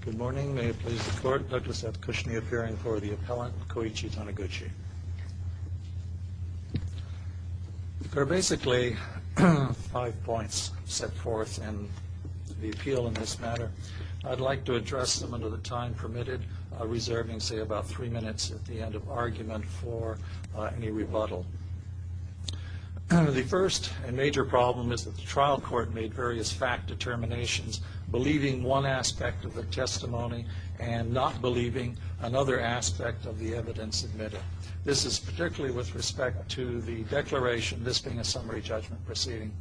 Good morning. May it please the Court, Douglas F. Cushney appearing for the appellant, Kouichi Taniguchi. There are basically five points set forth in the appeal in this manner. I'd like to address them under the time permitted, reserving, say, about three minutes at the end of argument for any rebuttal. The first and major problem is that the trial court made various fact determinations, believing one aspect of the testimony and not believing another aspect of the evidence admitted. This is particularly with respect to the declaration, this being a summary judgment proceeding,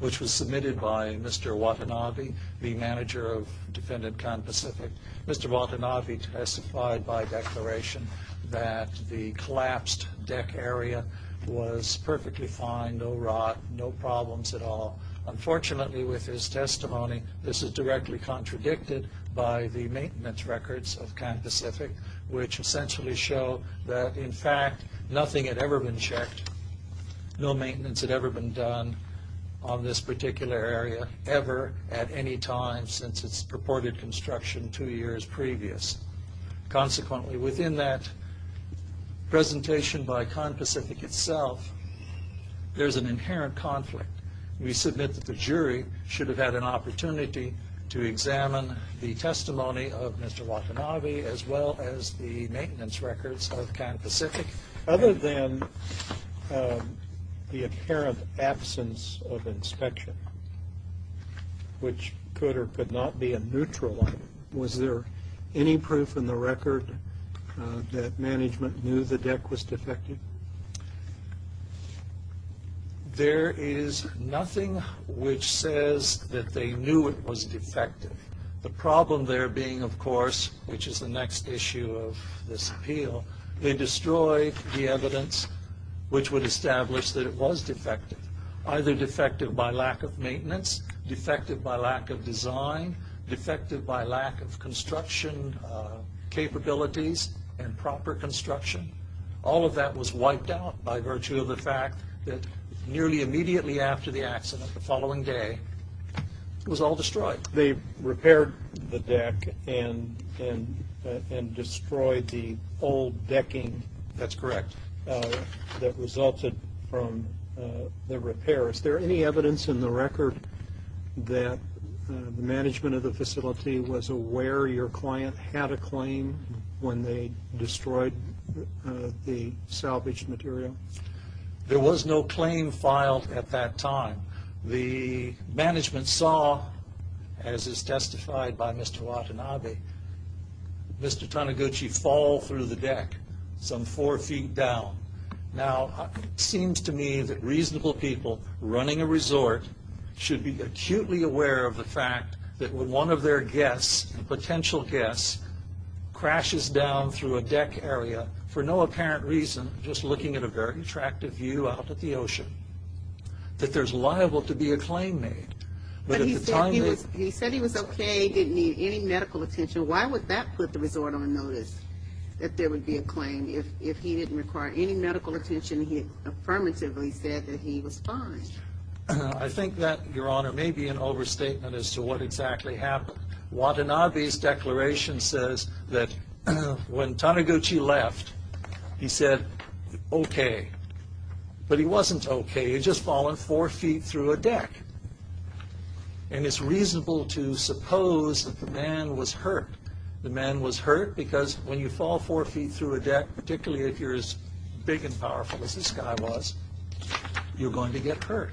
which was submitted by Mr. Watanabe, the manager of Defendant Kan Pacific. Mr. Watanabe testified by declaration that the collapsed deck area was perfectly fine, no rot, no problems at all. Unfortunately, with his testimony, this is directly contradicted by the maintenance records of Kan Pacific, which essentially show that, in fact, nothing had ever been checked. No maintenance had ever been done on this particular area ever at any time since its purported construction two years previous. Consequently, within that presentation by Kan Pacific itself, there's an inherent conflict. We submit that the jury should have had an opportunity to examine the testimony of Mr. Watanabe as well as the maintenance records of Kan Pacific. Other than the apparent absence of inspection, which could or could not be a neutral one, was there any proof in the record that management knew the deck was defective? There is nothing which says that they knew it was defective. The problem there being, of course, which is the next issue of this appeal, they destroyed the evidence which would establish that it was defective, either defective by lack of maintenance, defective by lack of design, defective by lack of construction capabilities and proper construction. All of that was wiped out by virtue of the fact that nearly immediately after the accident, the following day, it was all destroyed. They repaired the deck and destroyed the old decking. That's correct. That resulted from the repair. Is there any evidence in the record that the management of the facility was aware your client had a claim when they destroyed the salvaged material? There was no claim filed at that time. The management saw, as is testified by Mr. Watanabe, Mr. Taniguchi fall through the deck some four feet down. It seems to me that reasonable people running a resort should be acutely aware of the fact that when one of their guests, potential guests, crashes down through a deck area, for no apparent reason, just looking at a very attractive view out at the ocean, that there's liable to be a claim made. But he said he was okay, didn't need any medical attention. Why would that put the resort on notice that there would be a claim if he didn't require any medical attention, he affirmatively said that he was fine? I think that, Your Honor, may be an overstatement as to what exactly happened. Watanabe's declaration says that when Taniguchi left, he said, okay. But he wasn't okay. He'd just fallen four feet through a deck. And it's reasonable to suppose that the man was hurt. The man was hurt because when you fall four feet through a deck, particularly if you're as big and powerful as this guy was, you're going to get hurt.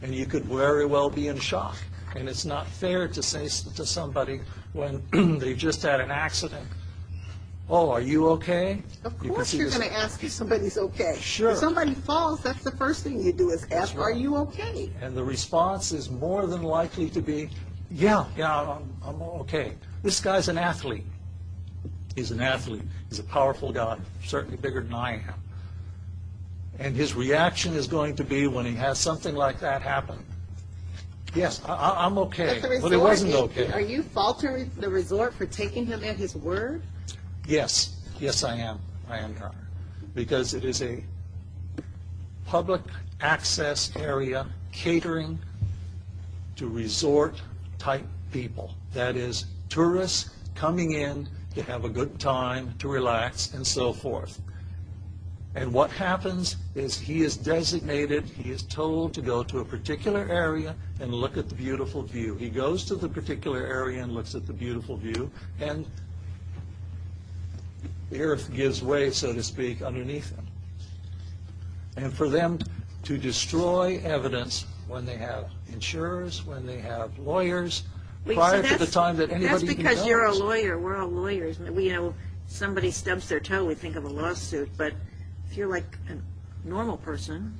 And you could very well be in shock. And it's not fair to say to somebody when they've just had an accident, oh, are you okay? Of course you're going to ask if somebody's okay. Sure. If somebody falls, that's the first thing you do is ask, are you okay? And the response is more than likely to be, yeah, yeah, I'm okay. This guy's an athlete. He's an athlete. He's a powerful guy, certainly bigger than I am. And his reaction is going to be when he has something like that happen, yes, I'm okay. But it wasn't okay. Are you faulting the resort for taking him at his word? Yes. Yes, I am. I am, Connor. Because it is a public access area catering to resort-type people. That is, tourists coming in to have a good time, to relax, and so forth. And what happens is he is designated, he is told to go to a particular area and look at the beautiful view. He goes to the particular area and looks at the beautiful view. And the earth gives way, so to speak, underneath him. And for them to destroy evidence when they have insurers, when they have lawyers, prior to the time that anybody else. That's because you're a lawyer. We're all lawyers. Somebody stubs their toe, we think of a lawsuit. But if you're like a normal person,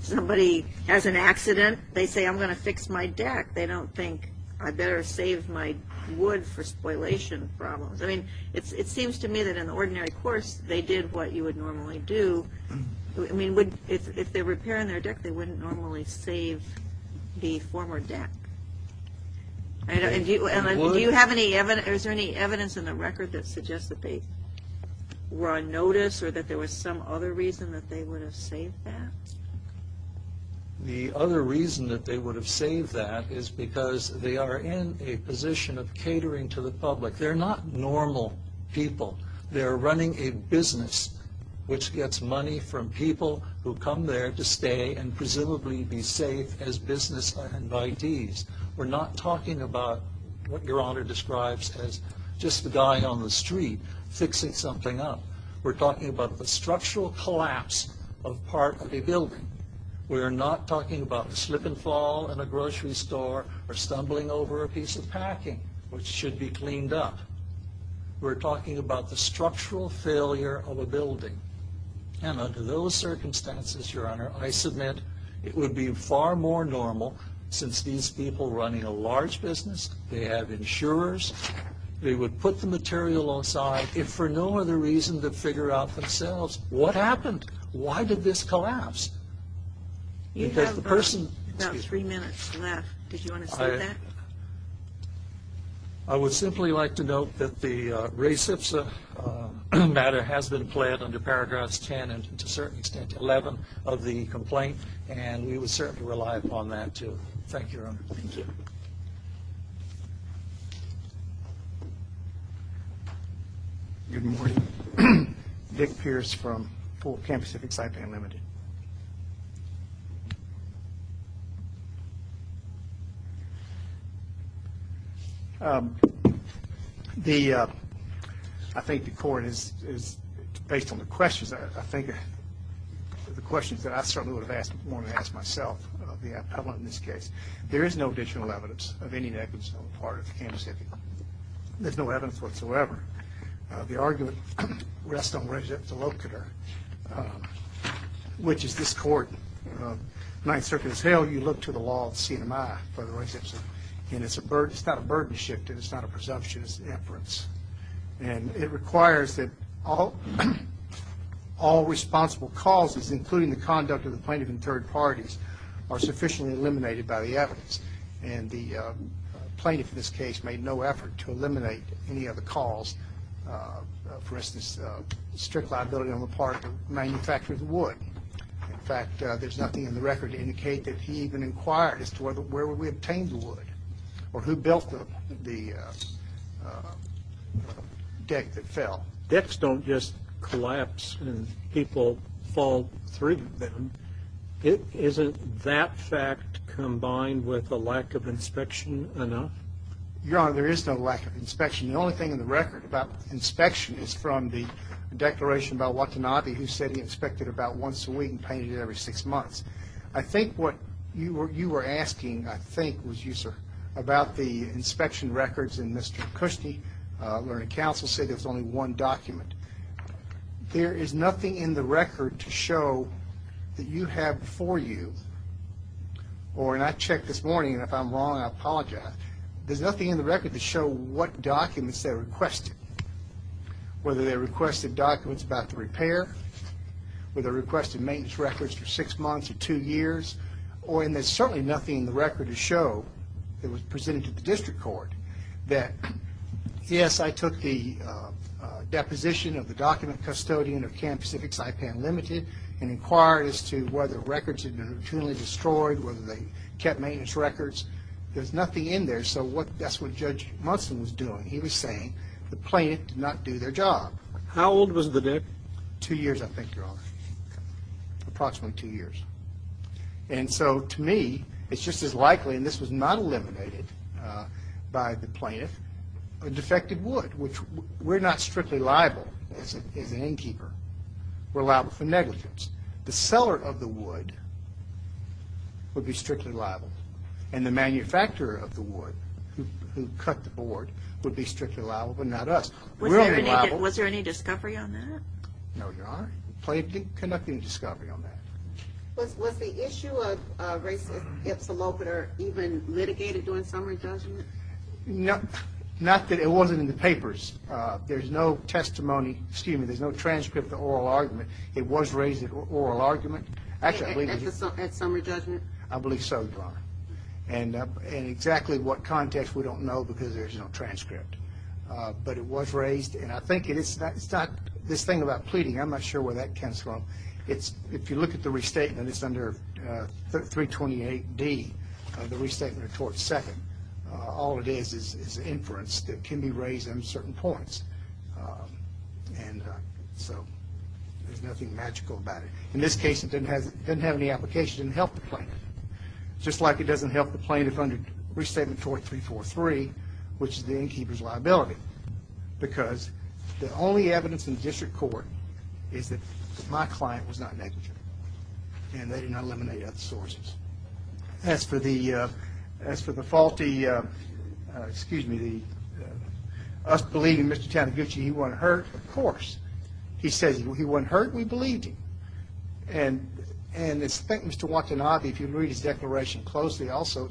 somebody has an accident, they say, I'm going to fix my deck. They don't think, I better save my wood for spoilation problems. I mean, it seems to me that in the ordinary course, they did what you would normally do. I mean, if they're repairing their deck, they wouldn't normally save the former deck. And do you have any evidence, is there any evidence in the record that suggests that they were on notice or that there was some other reason that they would have saved that? The other reason that they would have saved that is because they are in a position of catering to the public. They're not normal people. They're running a business which gets money from people who come there to stay and presumably be safe as business attendees. We're not talking about what Your Honor describes as just a guy on the street fixing something up. We're talking about the structural collapse of part of a building. We're not talking about the slip and fall in a grocery store or stumbling over a piece of packing which should be cleaned up. We're talking about the structural failure of a building. And under those circumstances, Your Honor, I submit it would be far more normal since these people are running a large business, they have insurers, they would put the material aside if for no other reason than to figure out for themselves what happened. Why did this collapse? You have about three minutes left. Did you want to say that? I would simply like to note that the res ipsa matter has been pled under paragraphs 10 and to a certain extent 11 of the complaint and we would certainly rely upon that too. Thank you, Your Honor. Thank you. Good morning. Vic Pierce from Camp Pacific, Saipan Limited. I think the court is based on the questions. I think the questions that I certainly would have asked myself in this case. There is no additional evidence of any negligence on the part of Camp Pacific. There's no evidence whatsoever. The argument rests on res ipsa locator which is this court. Ninth Circuit has held you look to the law of CMI for the res ipsa and it's not a burden shift and it's not a presumption, it's an inference. And it requires that all responsible causes including the conduct of the plaintiff and third parties are sufficiently eliminated by the evidence. And the plaintiff in this case made no effort to eliminate any of the calls. For instance, strict liability on the part of the manufacturer of the wood. In fact, there's nothing in the record to indicate that he even inquired as to where we obtained the wood or who built the deck that fell. Decks don't just collapse and people fall through them. Isn't that fact combined with a lack of inspection enough? Your Honor, there is no lack of inspection. The only thing in the record about inspection is from the declaration by Watanabe who said he inspected about once a week and painted it every six months. I think what you were asking, I think, was you, sir, about the inspection records and Mr. Cushnie, learning counsel, said there was only one document. There is nothing in the record to show that you have before you, or and I checked this morning and if I'm wrong I apologize, there's nothing in the record to show what documents they requested. Whether they requested documents about the repair, whether they requested maintenance records for six months or two years, or and there's certainly nothing in the record to show that was presented to the district court that yes, I took the deposition of the document, custodian of Camp Pacific, Saipan Limited, and inquired as to whether records had been routinely destroyed, whether they kept maintenance records. There's nothing in there, so that's what Judge Munson was doing. He was saying the plaintiff did not do their job. How old was the deck? Two years, I think, Your Honor. Approximately two years. And so to me, it's just as likely, and this was not eliminated by the plaintiff, a defective wood, which we're not strictly liable as an innkeeper. We're liable for negligence. The seller of the wood would be strictly liable, and the manufacturer of the wood who cut the board would be strictly liable, but not us. Was there any discovery on that? No, Your Honor. The plaintiff did not do any discovery on that. Was the issue of racist ipsalopiter even litigated during summary judgment? Not that it wasn't in the papers. There's no testimony, excuse me, there's no transcript of the oral argument. It was raised at oral argument. At summary judgment? I believe so, Your Honor. And in exactly what context, we don't know because there's no transcript. But it was raised, and I think it's not this thing about pleading. I'm not sure where that comes from. If you look at the restatement, it's under 328D, the restatement of tort second. All it is is inference that can be raised in certain points. And so there's nothing magical about it. In this case, it doesn't have any application to help the plaintiff, just like it doesn't help the plaintiff under restatement tort 343, which is the innkeeper's liability. Because the only evidence in district court is that my client was not negligent, and they did not eliminate other sources. As for the faulty, excuse me, us believing Mr. Taniguchi, he wasn't hurt? Of course. He says he wasn't hurt, we believed him. And I think Mr. Watanabe, if you read his declaration closely also,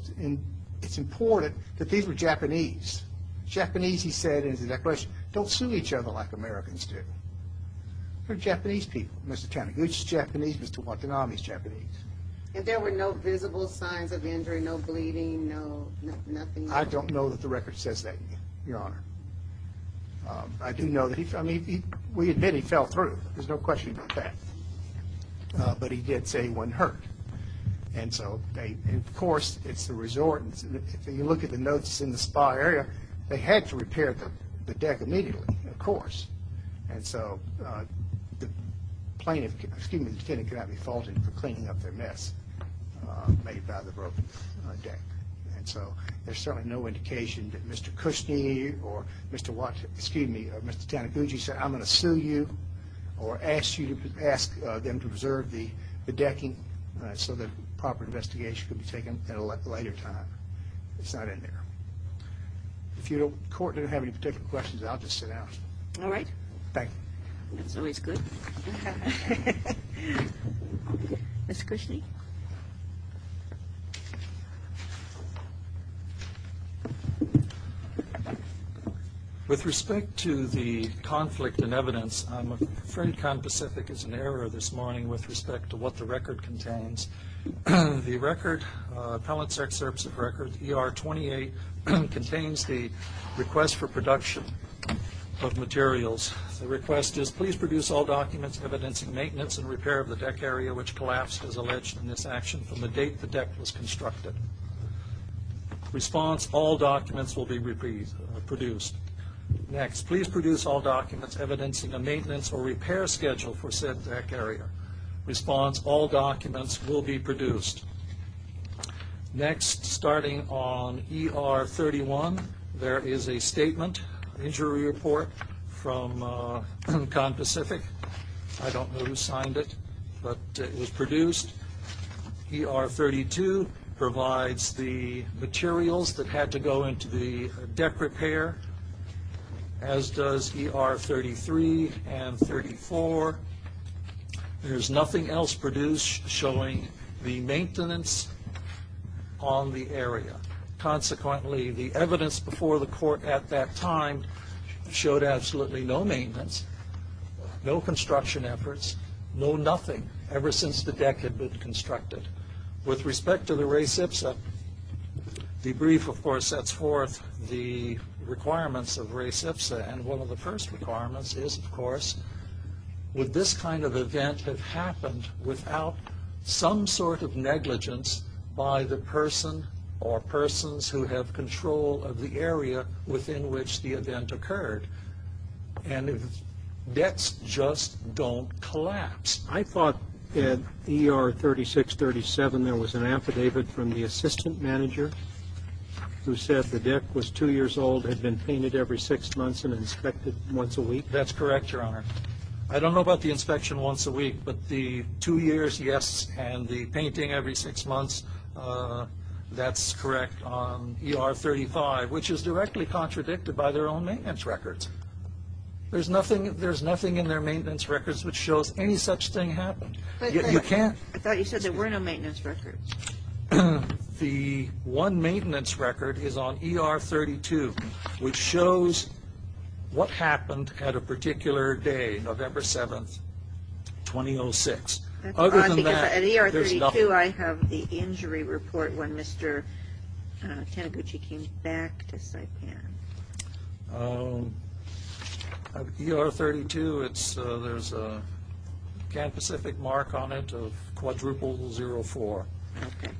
it's important that these were Japanese. Japanese, he said in his declaration, don't sue each other like Americans do. They're Japanese people, Mr. Taniguchi's Japanese, Mr. Watanabe's Japanese. And there were no visible signs of injury, no bleeding, no nothing? I don't know that the record says that, Your Honor. I do know that he, I mean, we admit he fell through. There's no question about that. But he did say he wasn't hurt. And so, of course, it's the resort. If you look at the notes in the spa area, they had to repair the deck immediately, of course. And so the plaintiff, excuse me, the defendant could not be faulted for cleaning up their mess made by the broken deck. And so there's certainly no indication that Mr. Cushnie or Mr. Watanabe, excuse me, Mr. Taniguchi said, I'm going to sue you or ask you to ask them to preserve the decking so that proper investigation could be taken at a later time. It's not in there. If the court didn't have any particular questions, I'll just sit down. All right. Thank you. That's always good. Mr. Cushnie. Thank you. With respect to the conflict in evidence, I'm afraid Conpacific is in error this morning with respect to what the record contains. The record, Appellant's Excerpts of Records, ER 28, contains the request for production of materials. The request is, please produce all documents evidencing maintenance and repair of the deck area which collapsed as alleged in this action from the date the deck was constructed. Response, all documents will be produced. Next, please produce all documents evidencing a maintenance or repair schedule for said deck area. Response, all documents will be produced. Next, starting on ER 31, there is a statement, injury report from Conpacific. I don't know who signed it, but it was produced. ER 32 provides the materials that had to go into the deck repair, as does ER 33 and 34. There is nothing else produced showing the maintenance on the area. Consequently, the evidence before the court at that time showed absolutely no maintenance, no construction efforts, no nothing ever since the deck had been constructed. With respect to the REH CPSA, the brief, of course, sets forth the requirements of REH CPSA, and one of the first requirements is, of course, would this kind of event have happened without some sort of negligence by the person or persons who have control of the area within which the event occurred. And if decks just don't collapse. I thought in ER 36, 37, there was an affidavit from the assistant manager who said the deck was two years old, had been painted every six months, and inspected once a week. That's correct, Your Honor. I don't know about the inspection once a week, but the two years, yes, and the painting every six months, that's correct. There is no record on ER 35, which is directly contradicted by their own maintenance records. There's nothing in their maintenance records which shows any such thing happened. You can't. I thought you said there were no maintenance records. The one maintenance record is on ER 32, which shows what happened at a particular day, November 7, 2006. Other than that, there's nothing. At ER 32, I have the injury report when Mr. Taniguchi came back to Saipan. At ER 32, there's a Camp Pacific mark on it of quadruple zero four,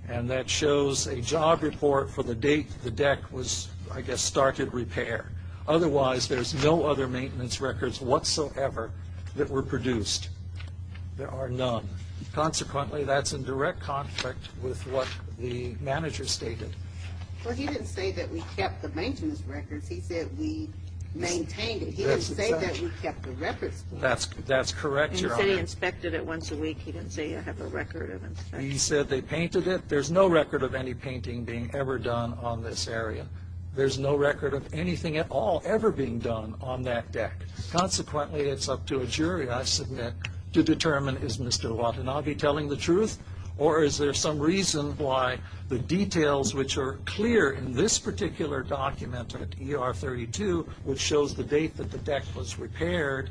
and that shows a job report for the date the deck was, I guess, started repair. Otherwise, there's no other maintenance records whatsoever that were produced. There are none. Consequently, that's in direct conflict with what the manager stated. Well, he didn't say that we kept the maintenance records. He said we maintained it. He didn't say that we kept the records. That's correct, Your Honor. He said he inspected it once a week. He didn't say I have a record of inspection. He said they painted it. There's no record of any painting being ever done on this area. There's no record of anything at all ever being done on that deck. Consequently, it's up to a jury, I submit, to determine is Mr. Watanabe telling the truth, or is there some reason why the details which are clear in this particular document at ER 32, which shows the date that the deck was repaired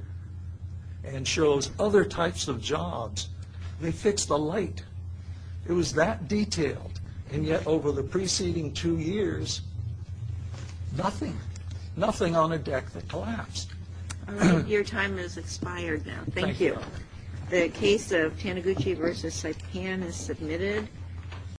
and shows other types of jobs, they fixed the light. It was that detailed, and yet over the preceding two years, nothing. Nothing on a deck that collapsed. Your time has expired now. Thank you. The case of Taniguchi v. Saipan is submitted.